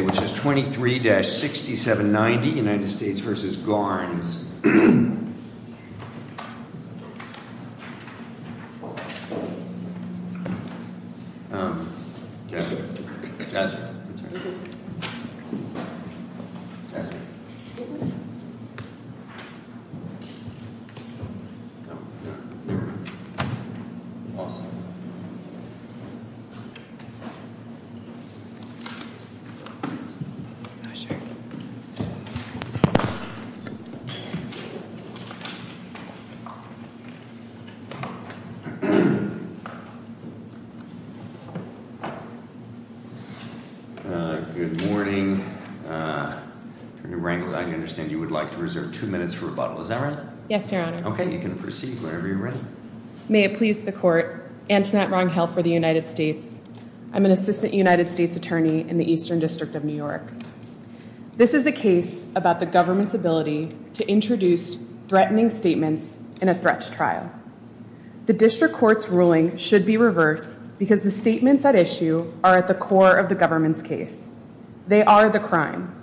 which is 23-6790, United States versus Garns. Good morning, I understand you would like to reserve two minutes for rebuttal, is that right? Yes, your honor. Okay, you can proceed whenever you're ready. May it please the court, Antoinette Ronghill for the United States, I'm an assistant United States attorney in the Eastern District of New York. This is a case about the government's ability to introduce threatening statements in a threats trial. The district court's ruling should be reversed because the statements at issue are at the core of the government's case. They are the crime.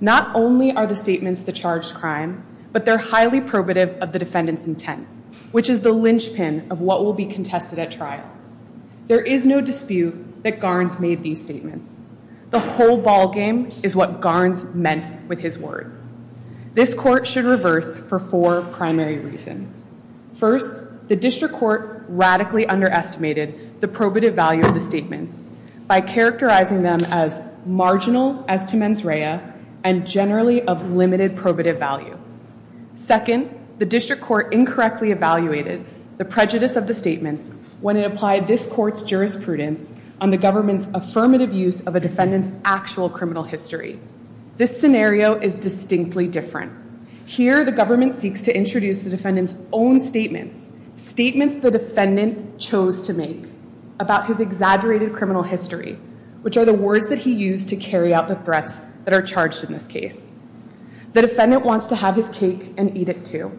Not only are the statements the charged crime, but they're highly probative of the defendant's intent, which is the linchpin of what will be contested at trial. There is no dispute that Garns made these statements. The whole ballgame is what Garns meant with his words. This court should reverse for four primary reasons. First, the district court radically underestimated the probative value of the statements by characterizing them as marginal as to mens rea and generally of limited probative value. Second, the district court incorrectly evaluated the prejudice of the statements when it applied this court's jurisprudence on the government's affirmative use of a defendant's actual criminal history. This scenario is distinctly different. Here, the government seeks to introduce the defendant's own statements, statements the defendant chose to make about his exaggerated criminal history, which are the words that he used to carry out the threats that are charged in this case. The defendant wants to have his cake and eat it too.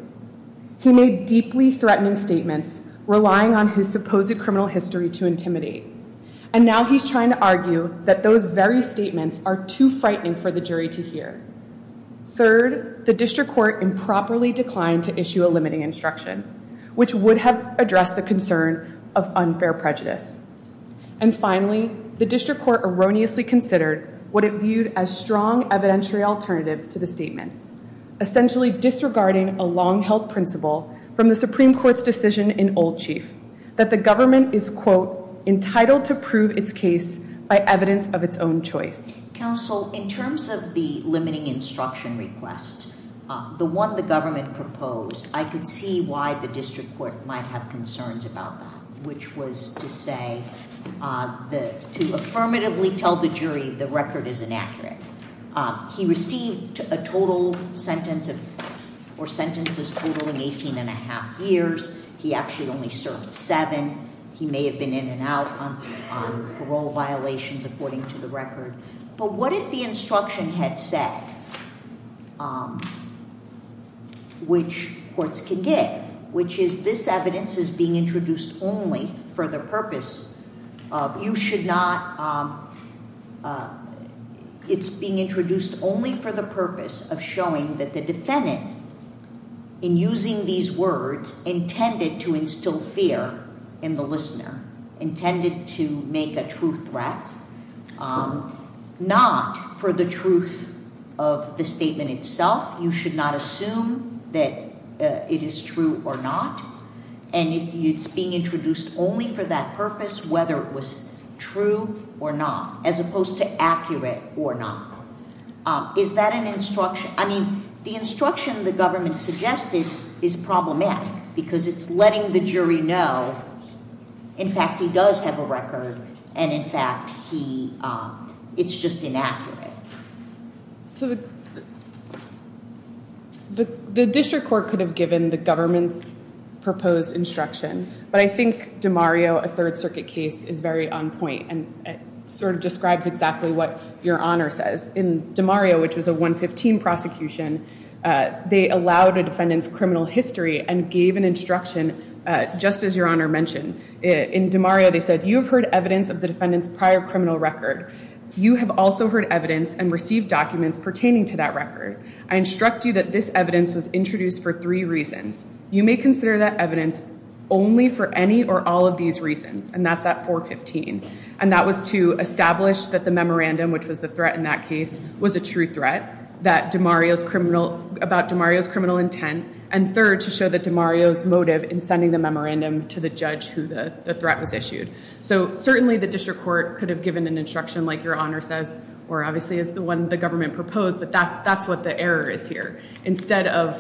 He made deeply threatening statements, relying on his supposed criminal history to intimidate. And now he's trying to argue that those very statements are too frightening for the jury to hear. Third, the district court improperly declined to issue a limiting instruction, which would have addressed the concern of unfair prejudice. And finally, the district court erroneously considered what it viewed as strong evidentiary alternatives to the statements, essentially disregarding a long-held principle from the Supreme Court's decision in Old Chief, that the government is, quote, entitled to prove its case by evidence of its own choice. Counsel, in terms of the limiting instruction request, the one the government proposed, I could see why the district court might have concerns about that, which was to say, to affirmatively tell the jury the record is inaccurate. He received a total sentence of, or sentences totaling 18 and a half years. He actually only served seven. He may have been in and out on parole violations, according to the record. But what if the instruction had said, which courts can give, which is this evidence is being introduced only for the purpose of, you should not. It's being introduced only for the purpose of showing that the defendant, in using these words intended to instill fear in the listener, intended to make a true threat, not for the truth of the statement itself. You should not assume that it is true or not, and it's being introduced only for that purpose, whether it was true or not, as opposed to accurate or not. Is that an instruction? I mean, the instruction the government suggested is problematic, because it's letting the jury know, in fact, he does have a record, and in fact, it's just inaccurate. So the district court could have given the government's proposed instruction, but I think DeMario, a Third Circuit case, is very on point, and sort of describes exactly what Your Honor says. In DeMario, which was a 115 prosecution, they allowed a defendant's criminal history and gave an instruction, just as Your Honor mentioned. In DeMario, they said, you have heard evidence of the defendant's prior criminal record. You have also heard evidence and received documents pertaining to that record. I instruct you that this evidence was introduced for three reasons. You may consider that evidence only for any or all of these reasons, and that's at 415. And that was to establish that the memorandum, which was the threat in that case, was a true threat about DeMario's criminal intent, and third, to show that DeMario's motive in sending the memorandum to the judge who the threat was issued. So certainly, the district court could have given an instruction like Your Honor says, or obviously is the one the government proposed, but that's what the error is here. Instead of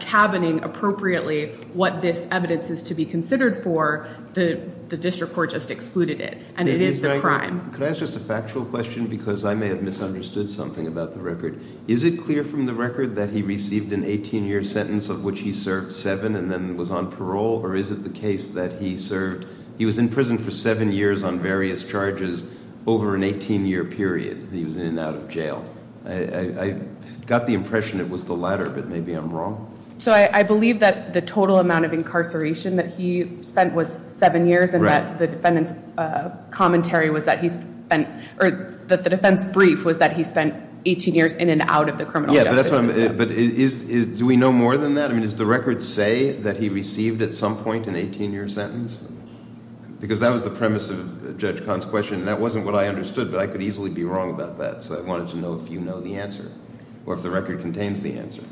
cabining appropriately what this evidence is to be considered for, the district court just excluded it, and it is the crime. Could I ask just a factual question? Because I may have misunderstood something about the record. Is it clear from the record that he received an 18-year sentence of which he served seven and then was on parole? Or is it the case that he served, he was in prison for seven years on various charges over an 18-year period that he was in and out of jail? I got the impression it was the latter, but maybe I'm wrong. So I believe that the total amount of incarceration that he spent was seven years and that the defendant's commentary was that he spent, or that the defense brief was that he spent 18 years in and out of the criminal justice system. But do we know more than that? I mean, does the record say that he received at some point an 18-year sentence? Because that was the premise of Judge Kahn's question, and that wasn't what I understood, but I could easily be wrong about that. So I wanted to know if you know the answer or if the record contains the answer.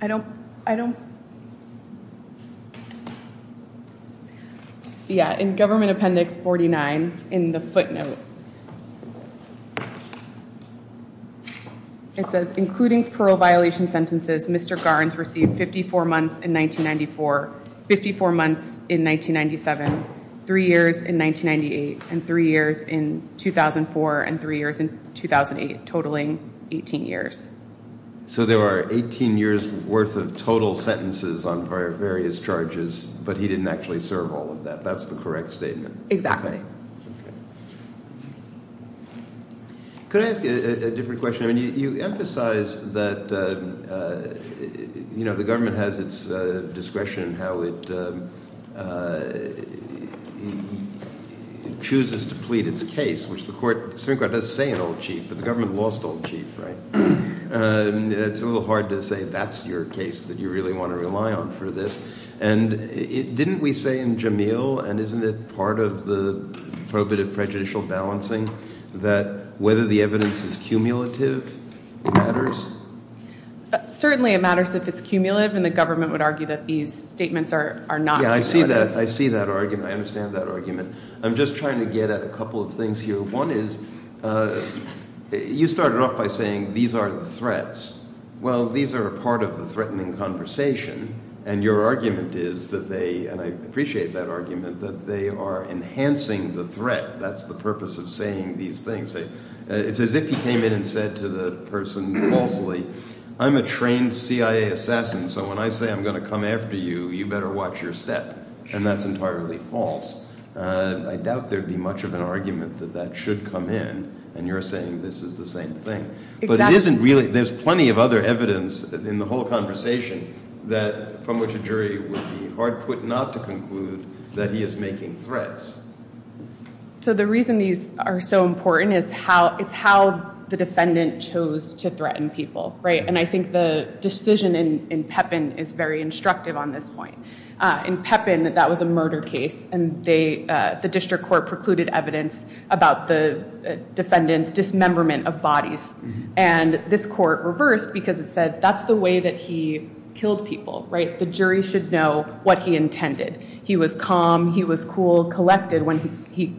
I don't, I don't, yeah, in Government Appendix 49 in the footnote it says, including parole violation sentences, Mr. Garnes received 54 months in 1994, and he was in 2008, totaling 18 years. So there are 18 years' worth of total sentences on various charges, but he didn't actually serve all of that. That's the correct statement? Exactly. Okay. Could I ask a different question? I mean, you emphasize that, you know, the government has its discretion in how it chooses to plead its case, which the court, the Supreme Court does say an old chief, but the government lost an old chief, right? And it's a little hard to say that's your case that you really want to rely on for this. And didn't we say in Jamil, and isn't it part of the probative prejudicial balancing, that whether the evidence is cumulative matters? Certainly it matters if it's cumulative, and the government would argue that these statements are not cumulative. I understand that argument. I'm just trying to get at a couple of things here. One is, you started off by saying these are the threats. Well, these are a part of the threatening conversation, and your argument is that they, and I appreciate that argument, that they are enhancing the threat. That's the purpose of saying these things. It's as if he came in and said to the person falsely, I'm a trained CIA assassin, so when I say I'm going to come after you, you better watch your step. And that's entirely false. I doubt there'd be much of an argument that that should come in, and you're saying this is the same thing. But it isn't really, there's plenty of other evidence in the whole conversation from which a jury would be hard put not to conclude that he is making threats. So the reason these are so important is how, it's how the defendant chose to threaten people, right? And I think the decision in Pepin is very instructive on this point. In Pepin, that was a murder case, and the district court precluded evidence about the defendant's dismemberment of bodies. And this court reversed, because it said that's the way that he killed people, right? The jury should know what he intended. He was calm, he was cool, collected when he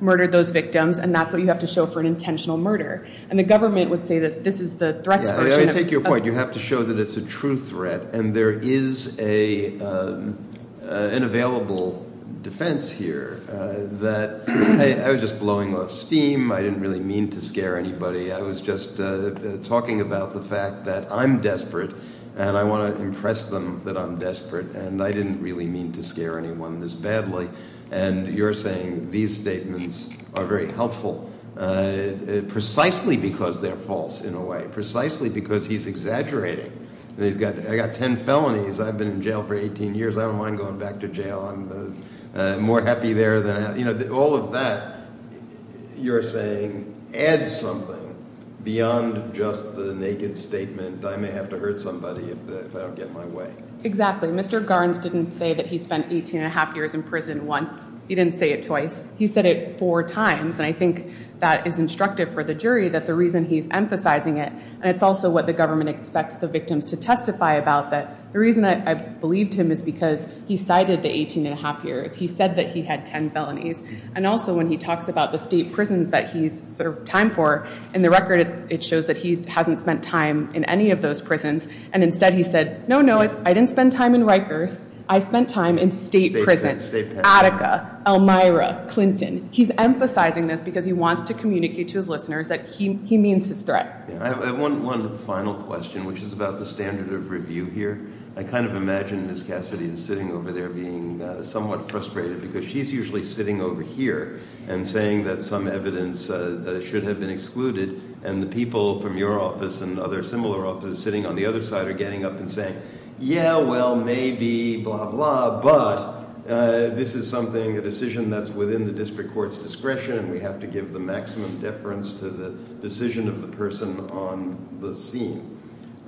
murdered those victims, and that's what you have to show for an intentional murder. And the government would say that this is the threat's version of- An available defense here, that I was just blowing off steam, I didn't really mean to scare anybody. I was just talking about the fact that I'm desperate, and I want to impress them that I'm desperate. And I didn't really mean to scare anyone this badly. And you're saying these statements are very helpful, precisely because they're false in a way. Precisely because he's exaggerating. And he's got, I got ten felonies, I've been in jail for 18 years, I don't mind going back to jail. I'm more happy there than, all of that, you're saying, adds something beyond just the naked statement, I may have to hurt somebody if I don't get my way. Exactly, Mr. Garns didn't say that he spent 18 and a half years in prison once. He didn't say it twice. He said it four times, and I think that is instructive for the jury that the reason he's emphasizing it, and it's also what the government expects the victims to testify about, that the reason I believed him is because he cited the 18 and a half years. He said that he had ten felonies. And also when he talks about the state prisons that he's served time for, in the record it shows that he hasn't spent time in any of those prisons. And instead he said, no, no, I didn't spend time in Rikers, I spent time in state prisons, Attica, Elmira, Clinton. He's emphasizing this because he wants to communicate to his listeners that he means his threat. I have one final question, which is about the standard of review here. I kind of imagine Ms. Cassidy is sitting over there being somewhat frustrated because she's usually sitting over here and saying that some evidence should have been excluded and the people from your office and other similar offices sitting on the other side are getting up and saying, yeah, well, maybe, blah, blah, but this is something, a decision that's within the district court's discretion and we have to give the maximum deference to the decision of the person on the scene.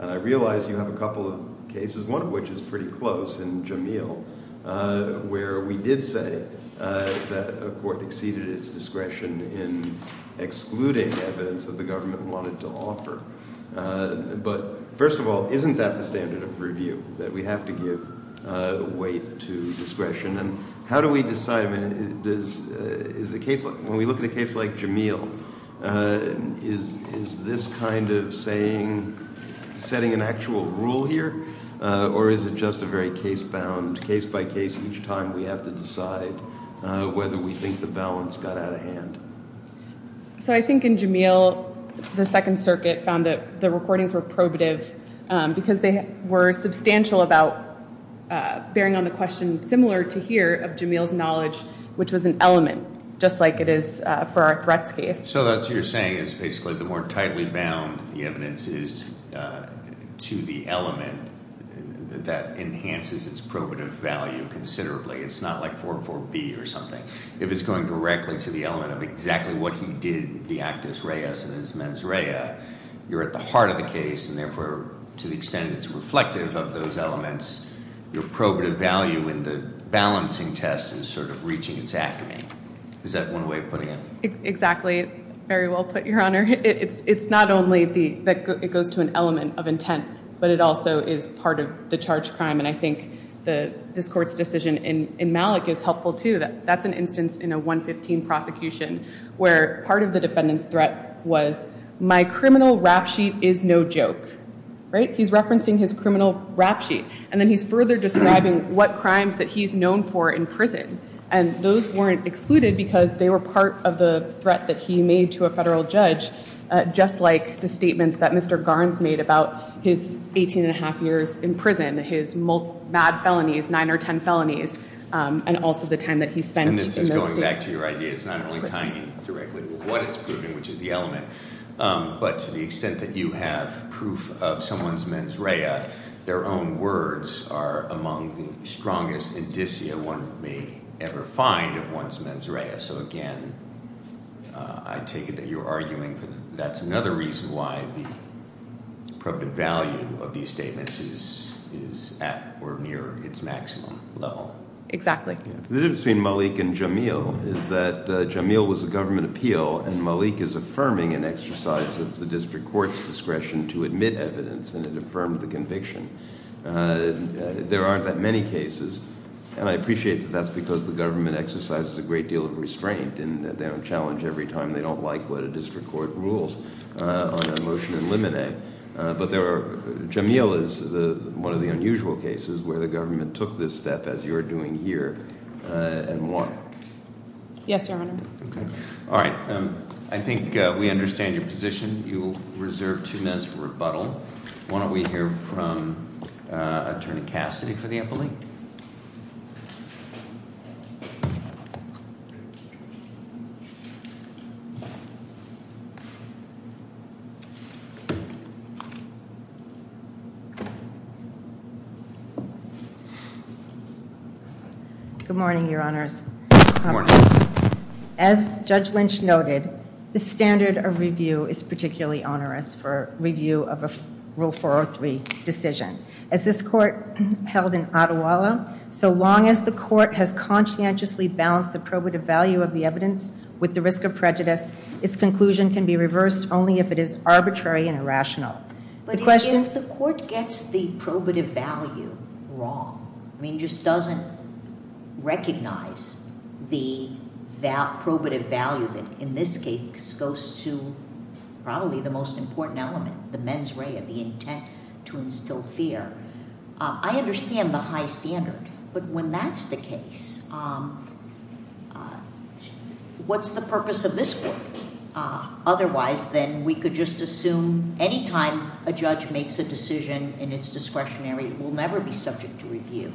And I realize you have a couple of cases, one of which is pretty close in Jameel, where we did say that a court exceeded its discretion in excluding evidence that the government wanted to offer. But first of all, isn't that the standard of review, that we have to give weight to discretion? And how do we decide, when we look at a case like Jameel, is this kind of setting an actual rule here? Or is it just a very case-bound, case by case, each time we have to decide whether we think the balance got out of hand? So I think in Jameel, the Second Circuit found that the recordings were probative because they were substantial about bearing on the question similar to here of Jameel's knowledge, which was an element, just like it is for our threats case. So that's what you're saying is basically the more tightly bound the evidence is to the element that enhances its probative value considerably. It's not like 4-4-B or something. If it's going directly to the element of exactly what he did, the actus reus in his mens rea, you're at the heart of the case, and therefore, to the extent it's reflective of those elements, your probative value in the balancing test is sort of reaching its acme. Is that one way of putting it? Exactly. Very well put, Your Honor. It's not only that it goes to an element of intent, but it also is part of the charge crime. And I think this court's decision in Malik is helpful, too. That's an instance in a 115 prosecution where part of the defendant's threat was, my criminal rap sheet is no joke. He's referencing his criminal rap sheet. And then he's further describing what crimes that he's known for in prison. And those weren't excluded because they were part of the threat that he made to a federal judge, just like the statements that Mr. Garns made about his 18 and a half years in prison, his mad felonies, nine or ten felonies, and also the time that he spent in those states. And this is going back to your idea. It's not only tying it directly to what it's proving, which is the element. But to the extent that you have proof of someone's mens rea, their own words are among the strongest indicia one may ever find of one's mens rea. So again, I take it that you're arguing that's another reason why the appropriate value of these statements is at or near its maximum level. Exactly. The difference between Malik and Jamil is that Jamil was a government appeal and Malik is affirming an exercise of the district court's discretion to admit evidence and it affirmed the conviction. There aren't that many cases, and I appreciate that that's because the government exercises a great deal of restraint. And they don't challenge every time they don't like what a district court rules on a motion in limine. But there are, Jamil is one of the unusual cases where the government took this step as you're doing here and won. Yes, Your Honor. All right, I think we understand your position. You will reserve two minutes for rebuttal. Why don't we hear from Attorney Cassidy for the appellee? Good morning, Your Honors. As Judge Lynch noted, the standard of review is particularly onerous for review of a Rule 403 decision. As this court held in Ottawa, so long as the court has conscientiously balanced the probative value of the evidence with the risk of prejudice, its conclusion can be reversed only if it is arbitrary and irrational. The question- But if the court gets the probative value wrong, I mean just doesn't recognize the probative value that, in this case, goes to probably the most important element, the mens rea, the intent to instill fear. I understand the high standard. But when that's the case, what's the purpose of this court? Otherwise, then we could just assume any time a judge makes a decision in its discretionary, it will never be subject to review.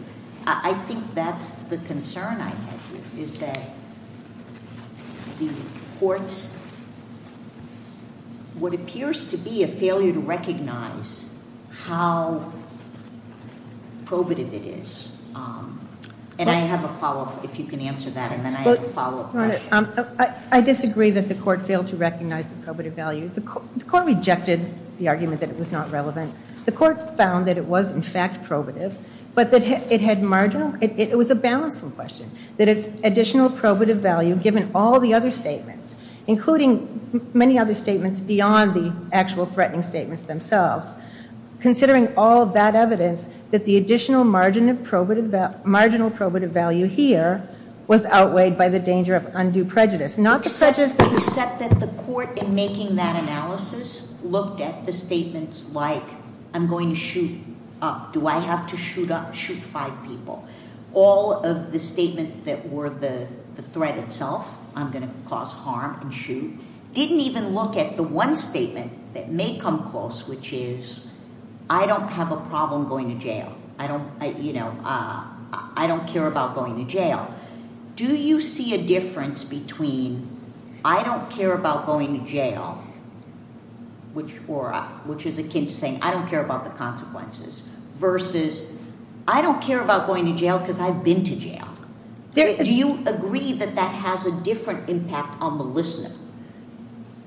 I think that's the concern I have here, is that the court's, what appears to be a failure to recognize how probative it is. And I have a follow-up, if you can answer that, and then I have a follow-up question. I disagree that the court failed to recognize the probative value. The court rejected the argument that it was not relevant. The court found that it was, in fact, probative, but that it had marginal, it was a balancing question. That it's additional probative value, given all the other statements, including many other statements beyond the actual threatening statements themselves. Considering all of that evidence, that the additional marginal probative value here was outweighed by the danger of undue prejudice. Not prejudice, except that the court in making that analysis looked at the statements like, I'm going to shoot up. Do I have to shoot up, shoot five people? All of the statements that were the threat itself, I'm going to cause harm and shoot. Didn't even look at the one statement that may come close, which is, I don't have a problem going to jail. I don't care about going to jail. Do you see a difference between, I don't care about going to jail, which is akin to saying, I don't care about the consequences. Versus, I don't care about going to jail because I've been to jail. Do you agree that that has a different impact on the listener?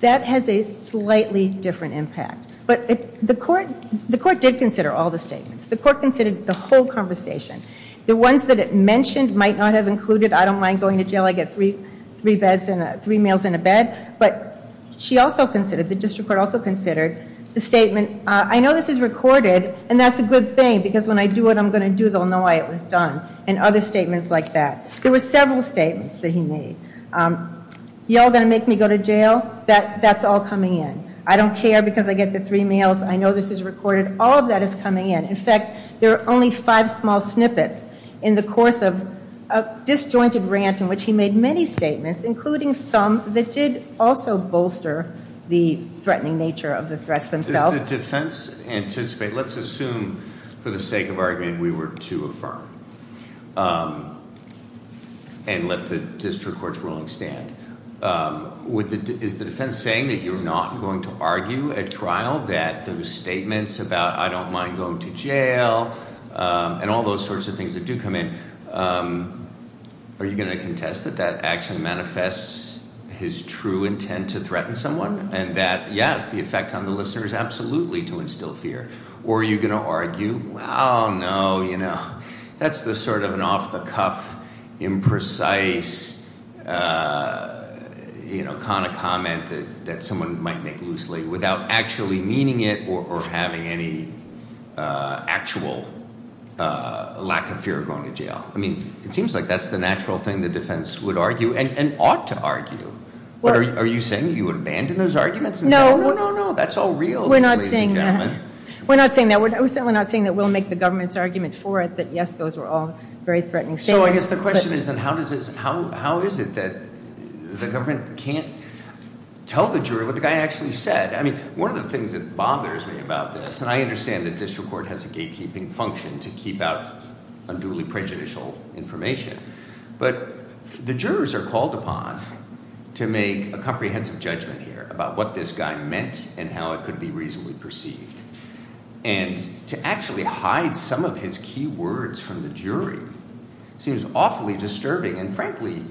That has a slightly different impact. But the court did consider all the statements. The court considered the whole conversation. The ones that it mentioned might not have included, I don't mind going to jail, I get three meals and a bed. But she also considered, the district court also considered the statement, I know this is recorded, and that's a good thing, because when I do what I'm going to do, they'll know why it was done, and other statements like that. There were several statements that he made. Y'all going to make me go to jail? That's all coming in. I don't care because I get the three meals. I know this is recorded. All of that is coming in. In fact, there are only five small snippets in the course of a disjointed rant in which he made many statements, including some that did also bolster the threatening nature of the threats themselves. Does the defense anticipate, let's assume for the sake of argument we were to affirm. And let the district court's ruling stand. Is the defense saying that you're not going to argue at trial that those statements about I don't mind going to jail, and all those sorts of things that do come in, are you going to contest that that actually manifests his true intent to threaten someone, and that, yes, the effect on the listener is absolutely to instill fear. Or are you going to argue, no, that's the sort of an off-the-cuff, imprecise kind of comment that someone might make loosely, without actually meaning it or having any actual lack of fear of going to jail. I mean, it seems like that's the natural thing the defense would argue, and ought to argue. But are you saying you would abandon those arguments and say, no, no, no, that's all real, ladies and gentlemen. We're not saying that. We're certainly not saying that we'll make the government's argument for it, that yes, those were all very threatening statements. So I guess the question is then, how is it that the government can't tell the jury what the guy actually said? I mean, one of the things that bothers me about this, and I understand that district court has a gatekeeping function to keep out some duly prejudicial information, but the jurors are called upon to make a comprehensive judgment here about what this guy meant and how it could be reasonably perceived. And to actually hide some of his key words from the jury seems awfully disturbing. And frankly,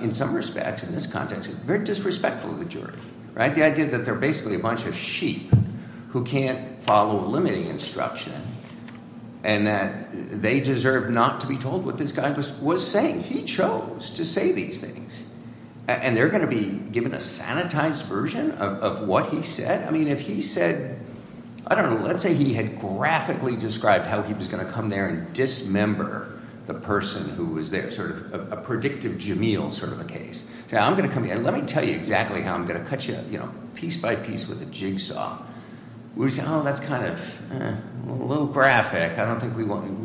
in some respects, in this context, it's very disrespectful of the jury, right? The idea that they're basically a bunch of sheep who can't follow a limiting instruction. And that they deserve not to be told what this guy was saying. He chose to say these things. And they're going to be given a sanitized version of what he said? I mean, if he said, I don't know, let's say he had graphically described how he was going to come there and dismember the person who was there. Sort of a predictive Jamil sort of a case. Say, I'm going to come here and let me tell you exactly how I'm going to cut you up, you know, piece by piece with a jigsaw. We say, that's kind of a little graphic, I don't think we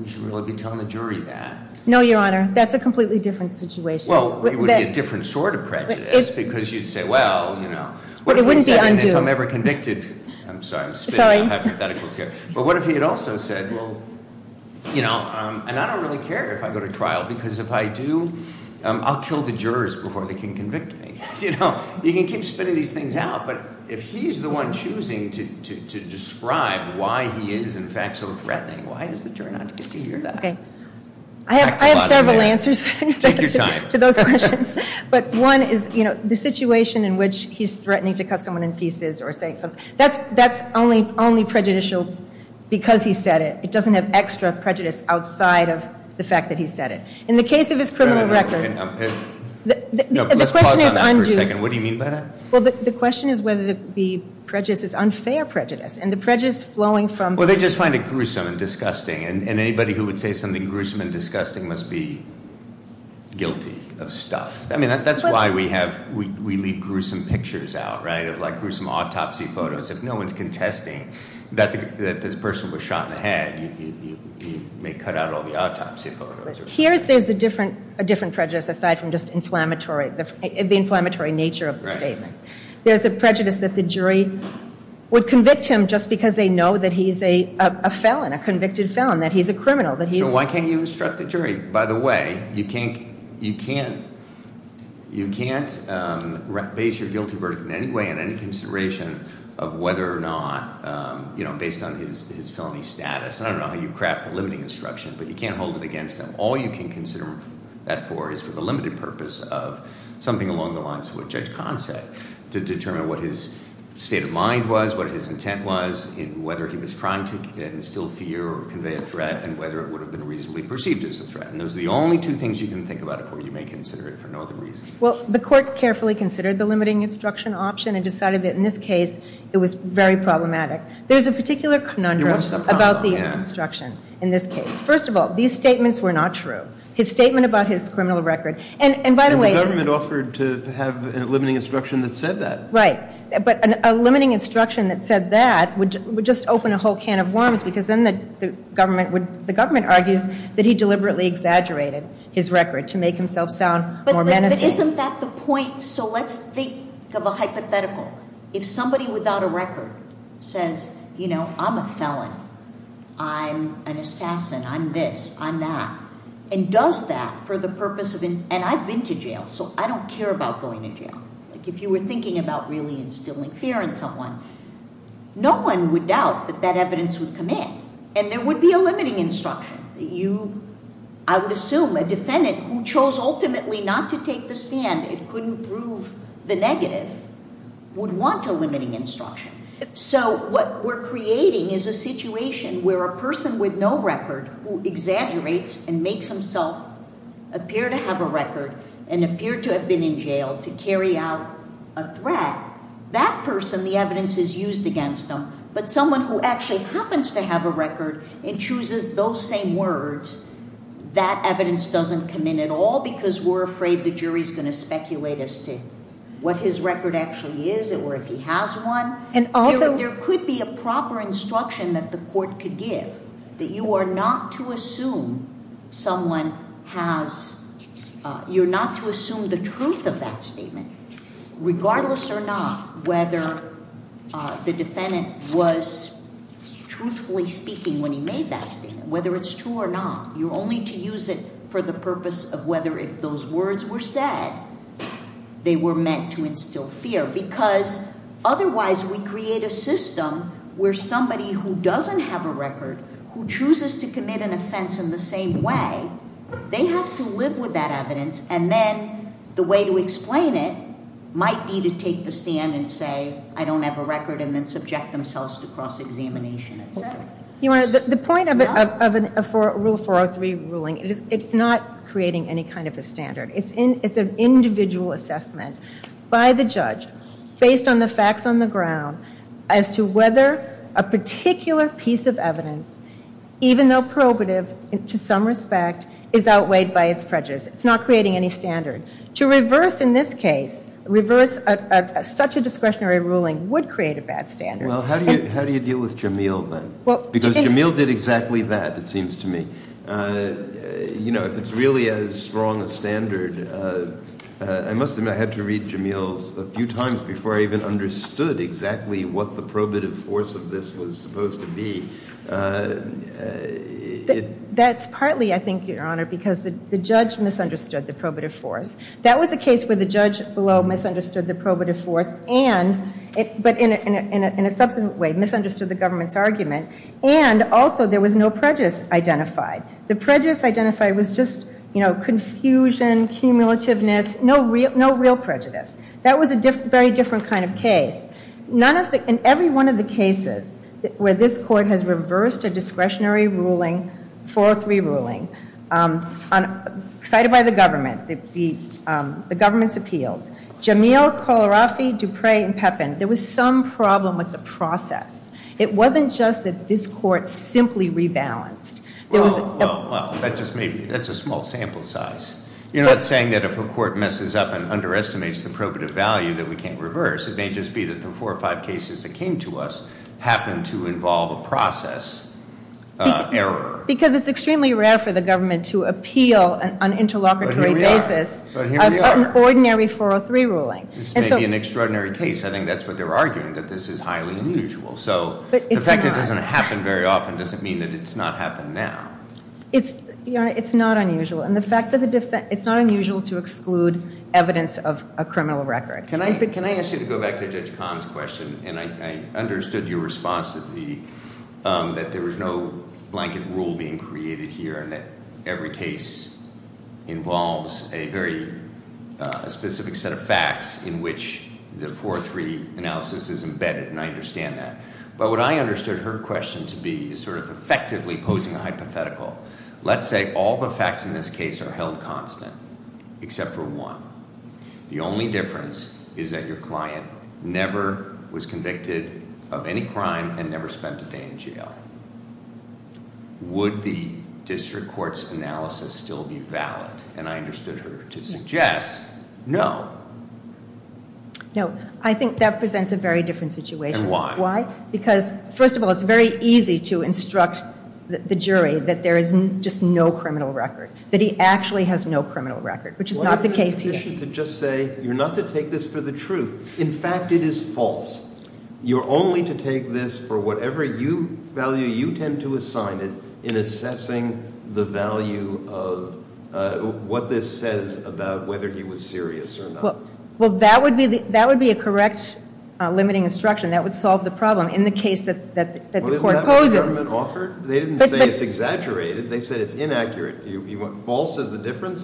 should really be telling the jury that. No, your honor, that's a completely different situation. Well, it would be a different sort of prejudice, because you'd say, well, you know. But it wouldn't be undue. If I'm ever convicted, I'm sorry, I'm spitting hypotheticals here. But what if he had also said, well, and I don't really care if I go to trial, because if I do, I'll kill the jurors before they can convict me. You can keep spitting these things out, but if he's the one choosing to describe why he is, in fact, so threatening. Why does the jury not get to hear that? Okay, I have several answers to those questions. But one is the situation in which he's threatening to cut someone in pieces or say something. That's only prejudicial because he said it. It doesn't have extra prejudice outside of the fact that he said it. In the case of his criminal record. No, let's pause on that for a second, what do you mean by that? Well, the question is whether the prejudice is unfair prejudice. And the prejudice flowing from- Well, they just find it gruesome and disgusting. And anybody who would say something gruesome and disgusting must be guilty of stuff. I mean, that's why we leave gruesome pictures out, right, like gruesome autopsy photos. If no one's contesting that this person was shot in the head, you may cut out all the autopsy photos. Here's, there's a different prejudice aside from just the inflammatory nature of the statements. There's a prejudice that the jury would convict him just because they know that he's a felon, a convicted felon, that he's a criminal, that he's- So why can't you instruct the jury? By the way, you can't base your guilty verdict in any way, in any consideration of whether or not, based on his felony status. I don't know how you craft the limiting instruction, but you can't hold it against him. All you can consider that for is for the limited purpose of something along the lines of what Judge Kahn said, to determine what his state of mind was, what his intent was, whether he was trying to instill fear or convey a threat, and whether it would have been reasonably perceived as a threat. And those are the only two things you can think about it for, you may consider it for no other reason. Well, the court carefully considered the limiting instruction option and decided that in this case, it was very problematic. There's a particular conundrum about the instruction in this case. First of all, these statements were not true. His statement about his criminal record, and by the way- And the government offered to have a limiting instruction that said that. Right, but a limiting instruction that said that would just open a whole can of worms, because then the government argues that he deliberately exaggerated his record to make himself sound more menacing. But isn't that the point, so let's think of a hypothetical. If somebody without a record says, I'm a felon, I'm an assassin, I'm this, I'm that. And does that for the purpose of, and I've been to jail, so I don't care about going to jail. If you were thinking about really instilling fear in someone, no one would doubt that that evidence would come in. And there would be a limiting instruction that you, I would assume, a defendant who chose ultimately not to take the stand, it couldn't prove the negative. Would want a limiting instruction. So what we're creating is a situation where a person with no record who exaggerates and makes himself appear to have a record and appear to have been in jail to carry out a threat. That person, the evidence is used against them. But someone who actually happens to have a record and chooses those same words, that evidence doesn't come in at all because we're afraid the jury's going to speculate as to what his record actually is or if he has one. There could be a proper instruction that the court could give. That you are not to assume someone has, you're not to assume the truth of that statement. Regardless or not, whether the defendant was truthfully speaking when he made that statement. Whether it's true or not, you're only to use it for the purpose of whether if those words were said, they were meant to instill fear because otherwise we create a system where somebody who doesn't have a record, who chooses to commit an offense in the same way, they have to live with that evidence. And then the way to explain it might be to take the stand and say, I don't have a record, and then subject themselves to cross-examination, et cetera. The point of Rule 403 ruling, it's not creating any kind of a standard. It's an individual assessment by the judge based on the facts on the ground as to whether a particular piece of evidence, even though probative to some respect, is outweighed by its prejudice. It's not creating any standard. To reverse in this case, reverse such a discretionary ruling would create a bad standard. Well, how do you deal with Jameel then? Because Jameel did exactly that, it seems to me. You know, if it's really as strong a standard, I must admit I had to read Jameel's a few times before I even understood exactly what the probative force of this was supposed to be. That's partly, I think, Your Honor, because the judge misunderstood the probative force. That was a case where the judge below misunderstood the probative force, but in a subsequent way, misunderstood the government's argument, and also there was no prejudice identified. The prejudice identified was just, you know, confusion, cumulativeness, no real prejudice. That was a very different kind of case. In every one of the cases where this court has reversed a discretionary ruling, four or three ruling, cited by the government, the government's appeals, Jameel, Kohlrafe, Dupre, and Pepin, there was some problem with the process. It wasn't just that this court simply rebalanced. It was- Well, that just may be, that's a small sample size. You're not saying that if a court messes up and underestimates the probative value that we can't reverse, it may just be that the four or five cases that came to us happened to involve a process error. Because it's extremely rare for the government to appeal on an interlocutory basis. But here we are. An ordinary 403 ruling. This may be an extraordinary case. I think that's what they're arguing, that this is highly unusual. So, the fact that it doesn't happen very often doesn't mean that it's not happening now. It's not unusual. And the fact that it's not unusual to exclude evidence of a criminal record. Can I ask you to go back to Judge Kahn's question? And I understood your response to the, that there was no blanket rule being created here and that every case involves a very specific set of facts in which the 403 analysis is embedded, and I understand that. But what I understood her question to be is sort of effectively posing a hypothetical. Let's say all the facts in this case are held constant, except for one. The only difference is that your client never was convicted of any crime and never spent a day in jail. Would the district court's analysis still be valid? And I understood her to suggest, no. No, I think that presents a very different situation. And why? Why? Because, first of all, it's very easy to instruct the jury that there is just no criminal record. That he actually has no criminal record, which is not the case here. Why is it sufficient to just say, you're not to take this for the truth. In fact, it is false. You're only to take this for whatever value you tend to assign it in assessing the value of what this says about whether he was serious or not. Well, that would be a correct limiting instruction. That would solve the problem in the case that the court poses. Well, isn't that what the government offered? They didn't say it's exaggerated. They said it's inaccurate. False is the difference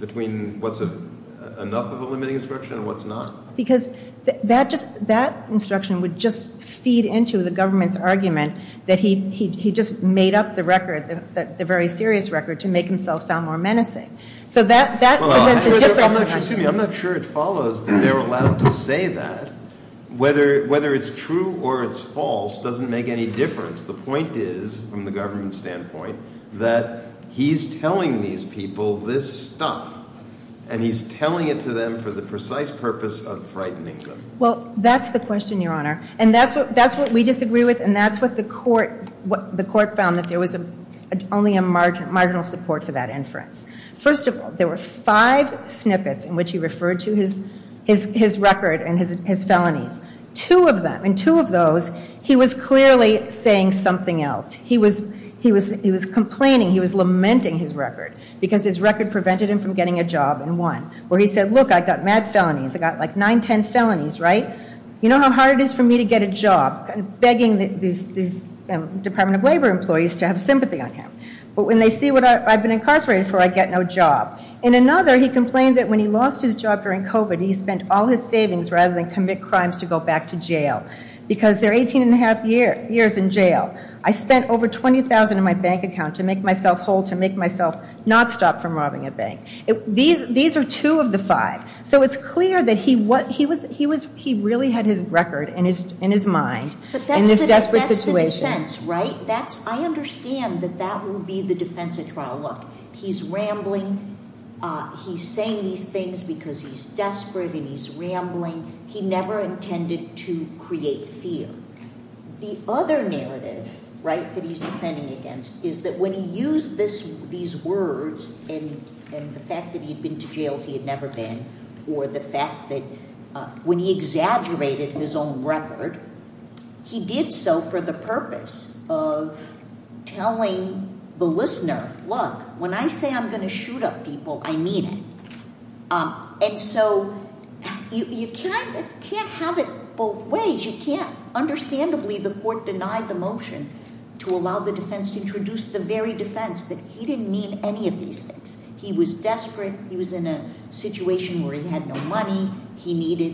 between what's enough of a limiting instruction and what's not. Because that instruction would just feed into the government's argument that he just made up the record, the very serious record, to make himself sound more menacing. So that presents a different- Excuse me, I'm not sure it follows that they're allowed to say that. Whether it's true or it's false doesn't make any difference. The point is, from the government standpoint, that he's telling these people this stuff. And he's telling it to them for the precise purpose of frightening them. Well, that's the question, your honor. And that's what we disagree with, and that's what the court found, that there was only a marginal support for that inference. First of all, there were five snippets in which he referred to his record and his felonies. Two of them, in two of those, he was clearly saying something else. He was complaining, he was lamenting his record. Because his record prevented him from getting a job, in one. Where he said, look, I got mad felonies, I got like nine, ten felonies, right? You know how hard it is for me to get a job? Begging these Department of Labor employees to have sympathy on him. But when they see what I've been incarcerated for, I get no job. In another, he complained that when he lost his job during COVID, he spent all his savings rather than commit crimes to go back to jail. Because they're 18 and a half years in jail. I spent over 20,000 in my bank account to make myself whole, to make myself not stop from robbing a bank. These are two of the five. So it's clear that he really had his record in his mind in this desperate situation. But that's the defense, right? I understand that that would be the defense at trial. Look, he's rambling, he's saying these things because he's desperate and he's rambling. He never intended to create fear. The other narrative, right, that he's defending against is that when he used these words, and the fact that he had been to jails he had never been, or the fact that when he exaggerated his own record, he did so for the purpose of telling the listener, look, when I say I'm going to shoot up people, I mean it. And so you can't have it both ways. Understandably, the court denied the motion to allow the defense to introduce the very defense that he didn't mean any of these things. He was desperate, he was in a situation where he had no money, he needed,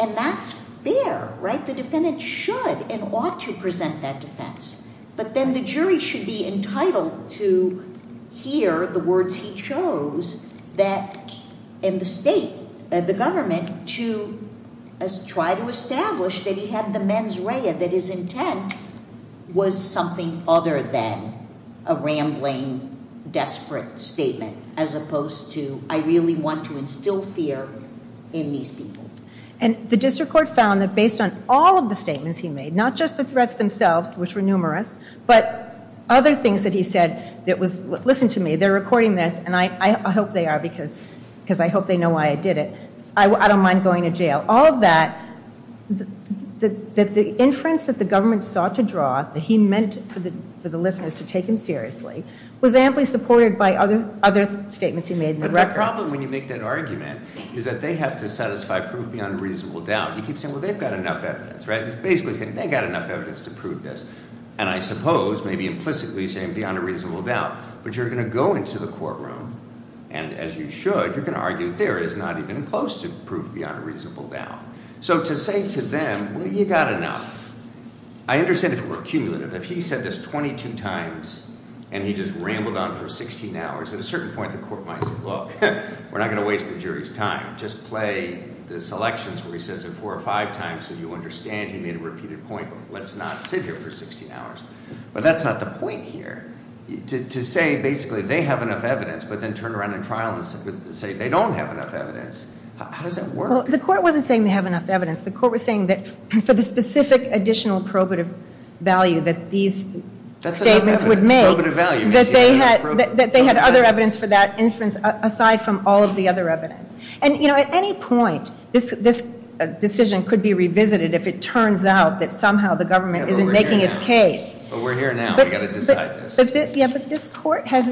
and that's fair, right? The defendant should and ought to present that defense. But then the jury should be entitled to hear the words he chose that in the state, the government, to try to establish that he had the mens rea, that his intent was something other than a rambling, desperate statement as opposed to I really want to instill fear in these people. And the district court found that based on all of the statements he made, not just the threats themselves, which were numerous, but other things that he said that was, listen to me, they're recording this, and I hope they are, because I hope they know why I did it, I don't mind going to jail. All of that, that the inference that the government sought to draw, that he meant for the listeners to take him seriously, was amply supported by other statements he made in the record. But the problem when you make that argument is that they have to satisfy proof beyond reasonable doubt. You keep saying, well, they've got enough evidence, right? It's basically saying, they've got enough evidence to prove this. And I suppose, maybe implicitly saying beyond a reasonable doubt, but you're going to go into the courtroom, and as you should, you're going to argue there is not even close to proof beyond a reasonable doubt. So to say to them, well, you got enough, I understand if we're accumulative. If he said this 22 times, and he just rambled on for 16 hours, at a certain point the court might say, look, we're not going to waste the jury's time. Just play the selections where he says it four or five times so you understand he made a repeated point. Let's not sit here for 16 hours. But that's not the point here. To say, basically, they have enough evidence, but then turn around in trial and say, they don't have enough evidence. How does that work? The court wasn't saying they have enough evidence. The court was saying that for the specific additional probative value that these statements would make, that they had other evidence for that inference aside from all of the other evidence. And at any point, this decision could be revisited if it turns out that somehow the government isn't making its case. But we're here now, we've got to decide this. Yeah, but this court has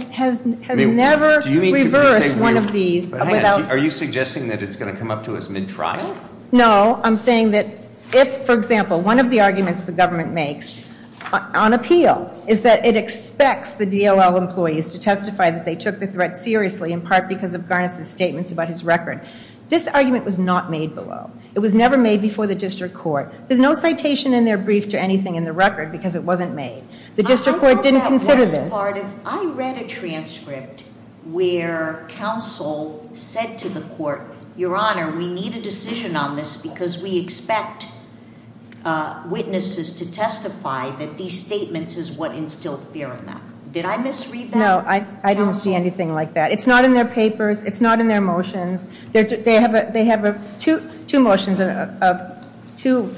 never reversed one of these without- Are you suggesting that it's going to come up to us mid-trial? No, I'm saying that if, for example, one of the arguments the government makes on appeal is that it expects the DOL employees to testify that they took the threat seriously, in part because of Garnus' statements about his record. This argument was not made below. It was never made before the district court. There's no citation in their brief to anything in the record because it wasn't made. The district court didn't consider this. I read a transcript where counsel said to the court, your honor, we need a decision on this because we expect witnesses to testify that these statements is what instilled fear in them. Did I misread that? No, I didn't see anything like that. It's not in their papers, it's not in their motions. They have two motions, two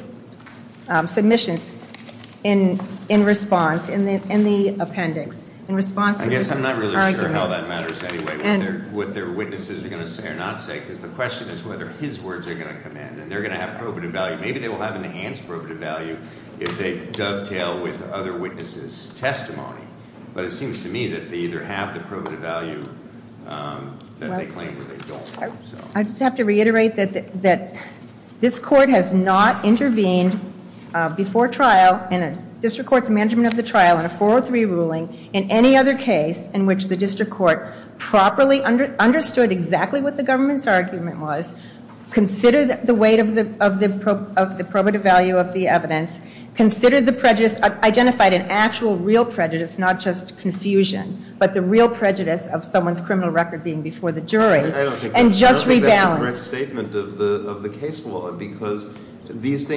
submissions in response, in the appendix. In response to this argument. I guess I'm not really sure how that matters anyway. What their witnesses are going to say or not say, because the question is whether his words are going to come in and they're going to have probative value. Maybe they will have enhanced probative value if they dovetail with other witnesses' testimony. But it seems to me that they either have the probative value that they claim or they don't. I just have to reiterate that this court has not intervened before trial in a district court's management of the trial in a 403 ruling. In any other case in which the district court properly understood exactly what the government's argument was. Considered the weight of the probative value of the evidence. Considered the prejudice, identified an actual real prejudice, not just confusion, but the real prejudice of someone's criminal record being before the jury, and just rebalanced. I don't think that's a correct statement of the case law because these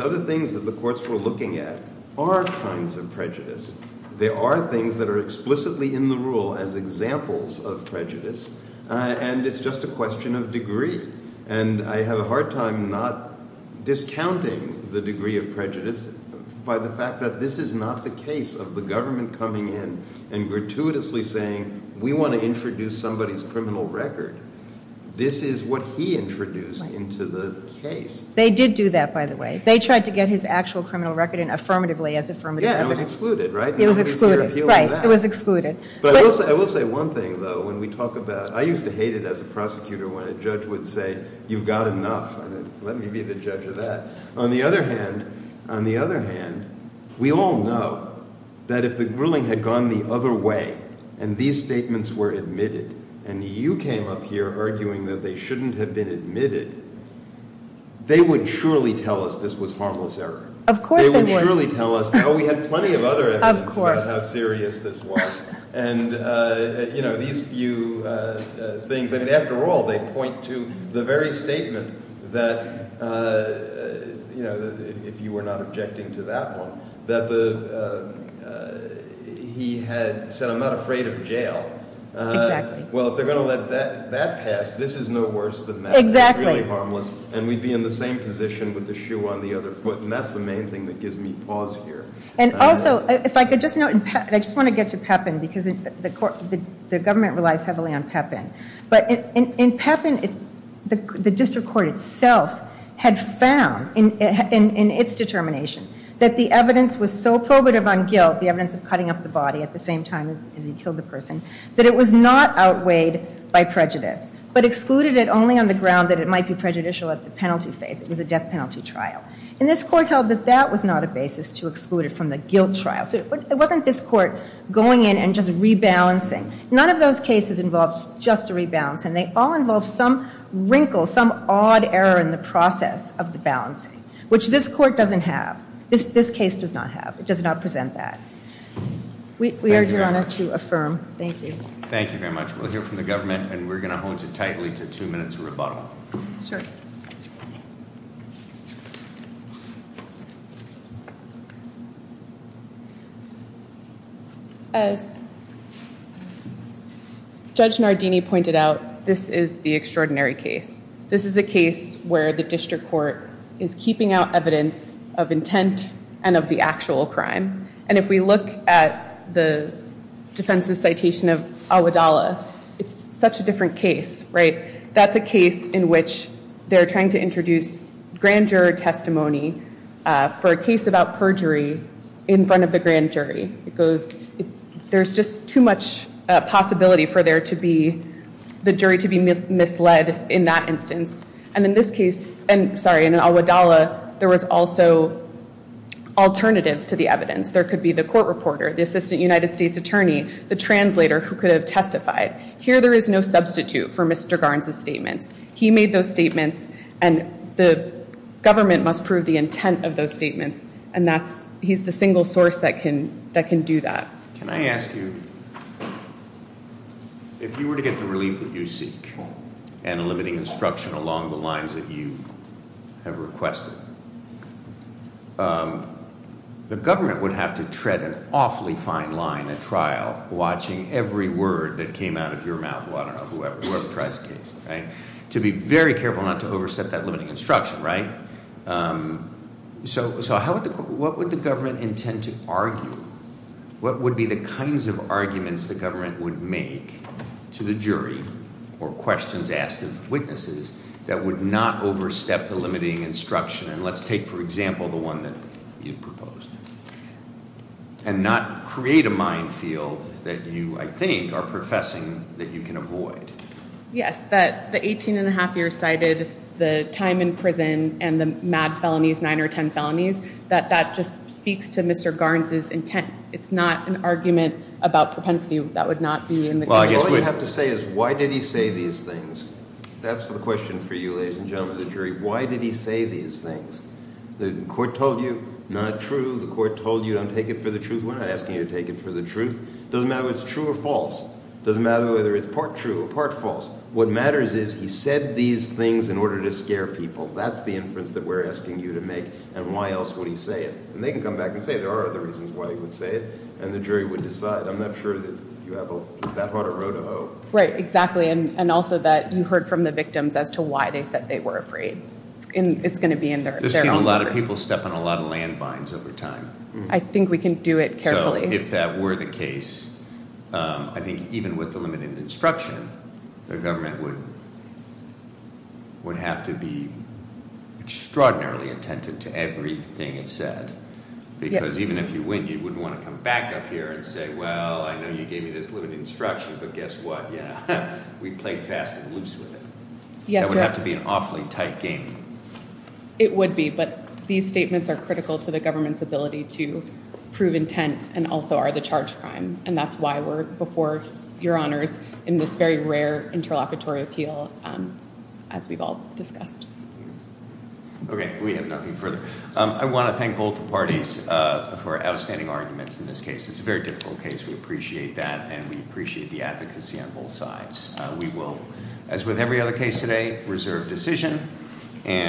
other things that the courts were looking at are kinds of prejudice. There are things that are explicitly in the rule as examples of prejudice, and it's just a question of degree. And I have a hard time not discounting the degree of prejudice by the fact that this is not the case of the government coming in and gratuitously saying, we want to introduce somebody's criminal record. This is what he introduced into the case. They did do that, by the way. They tried to get his actual criminal record in affirmatively as affirmative evidence. Yeah, and it was excluded, right? It was excluded. Right, it was excluded. But I will say one thing, though, when we talk about, I used to hate it as a prosecutor when a judge would say, you've got enough. Let me be the judge of that. On the other hand, we all know that if the ruling had gone the other way, and these statements were admitted, and you came up here arguing that they shouldn't have been admitted, they would surely tell us this was harmless error. Of course they would. They would surely tell us. We had plenty of other evidence about how serious this was. And these few things, and after all, they point to the very statement that, if you were not objecting to that one, that he had said, I'm not afraid of jail. Exactly. Well, if they're going to let that pass, this is no worse than that. Exactly. It's really harmless. And we'd be in the same position with the shoe on the other foot. And that's the main thing that gives me pause here. And also, if I could just note, and I just want to get to Pepin, because the government relies heavily on Pepin. But in Pepin, the district court itself had found, in its determination, that the evidence was so probative on guilt, the evidence of cutting up the body at the same time as he killed the person, that it was not outweighed by prejudice. But excluded it only on the ground that it might be prejudicial at the penalty phase. It was a death penalty trial. And this court held that that was not a basis to exclude it from the guilt trial. So it wasn't this court going in and just rebalancing. None of those cases involves just a rebalance. And they all involve some wrinkle, some odd error in the process of the balancing. Which this court doesn't have. This case does not have. It does not present that. We urge your honor to affirm. Thank you. Thank you very much. We'll hear from the government, and we're going to hold you tightly to two minutes of rebuttal. Sure. As Judge Nardini pointed out, this is the extraordinary case. This is a case where the district court is keeping out evidence of intent and of the actual crime. And if we look at the defense's citation of Awadallah, it's such a different case, right? That's a case in which they're trying to introduce grand jury testimony for a case about perjury in front of the grand jury. It goes, there's just too much possibility for there to be, the jury to be misled in that instance. And in this case, and sorry, in Awadallah, there was also alternatives to the evidence. There could be the court reporter, the assistant United States attorney, the translator who could have testified. Here there is no substitute for Mr. Garns' statements. He made those statements, and the government must prove the intent of those statements. And he's the single source that can do that. Can I ask you, if you were to get the relief that you seek and the government would have to tread an awfully fine line at trial, watching every word that came out of your mouth, I don't know, whoever tries the case, right? To be very careful not to overstep that limiting instruction, right? So what would the government intend to argue? What would be the kinds of arguments the government would make to the jury or questions asked of witnesses that would not overstep the limiting instruction? And let's take, for example, the one that you proposed, and not create a minefield that you, I think, are professing that you can avoid. Yes, that the 18 and a half years cited, the time in prison, and the mad felonies, nine or ten felonies. That that just speaks to Mr. Garns' intent. It's not an argument about propensity. That would not be in the case. All you have to say is, why did he say these things? That's the question for you, ladies and gentlemen of the jury. Why did he say these things? The court told you, not true. The court told you, don't take it for the truth. We're not asking you to take it for the truth. Doesn't matter if it's true or false. Doesn't matter whether it's part true or part false. What matters is, he said these things in order to scare people. That's the inference that we're asking you to make, and why else would he say it? And they can come back and say, there are other reasons why he would say it, and the jury would decide. I'm not sure that you have that hard a road to hoe. Right, exactly, and also that you heard from the victims as to why they said they were afraid. And it's going to be in their- This is where a lot of people step on a lot of landmines over time. I think we can do it carefully. So if that were the case, I think even with the limited instruction, the government would have to be extraordinarily attentive to everything it said. Because even if you win, you wouldn't want to come back up here and say, well, I know you gave me this limited instruction, but guess what? Yeah, we played fast and loose with it. That would have to be an awfully tight game. It would be, but these statements are critical to the government's ability to prove intent, and also are the charge crime, and that's why we're, before your honors, in this very rare interlocutory appeal, as we've all discussed. Okay, we have nothing further. I want to thank both parties for outstanding arguments in this case. It's a very difficult case. We appreciate that, and we appreciate the advocacy on both sides. We will, as with every other case today, reserve decision.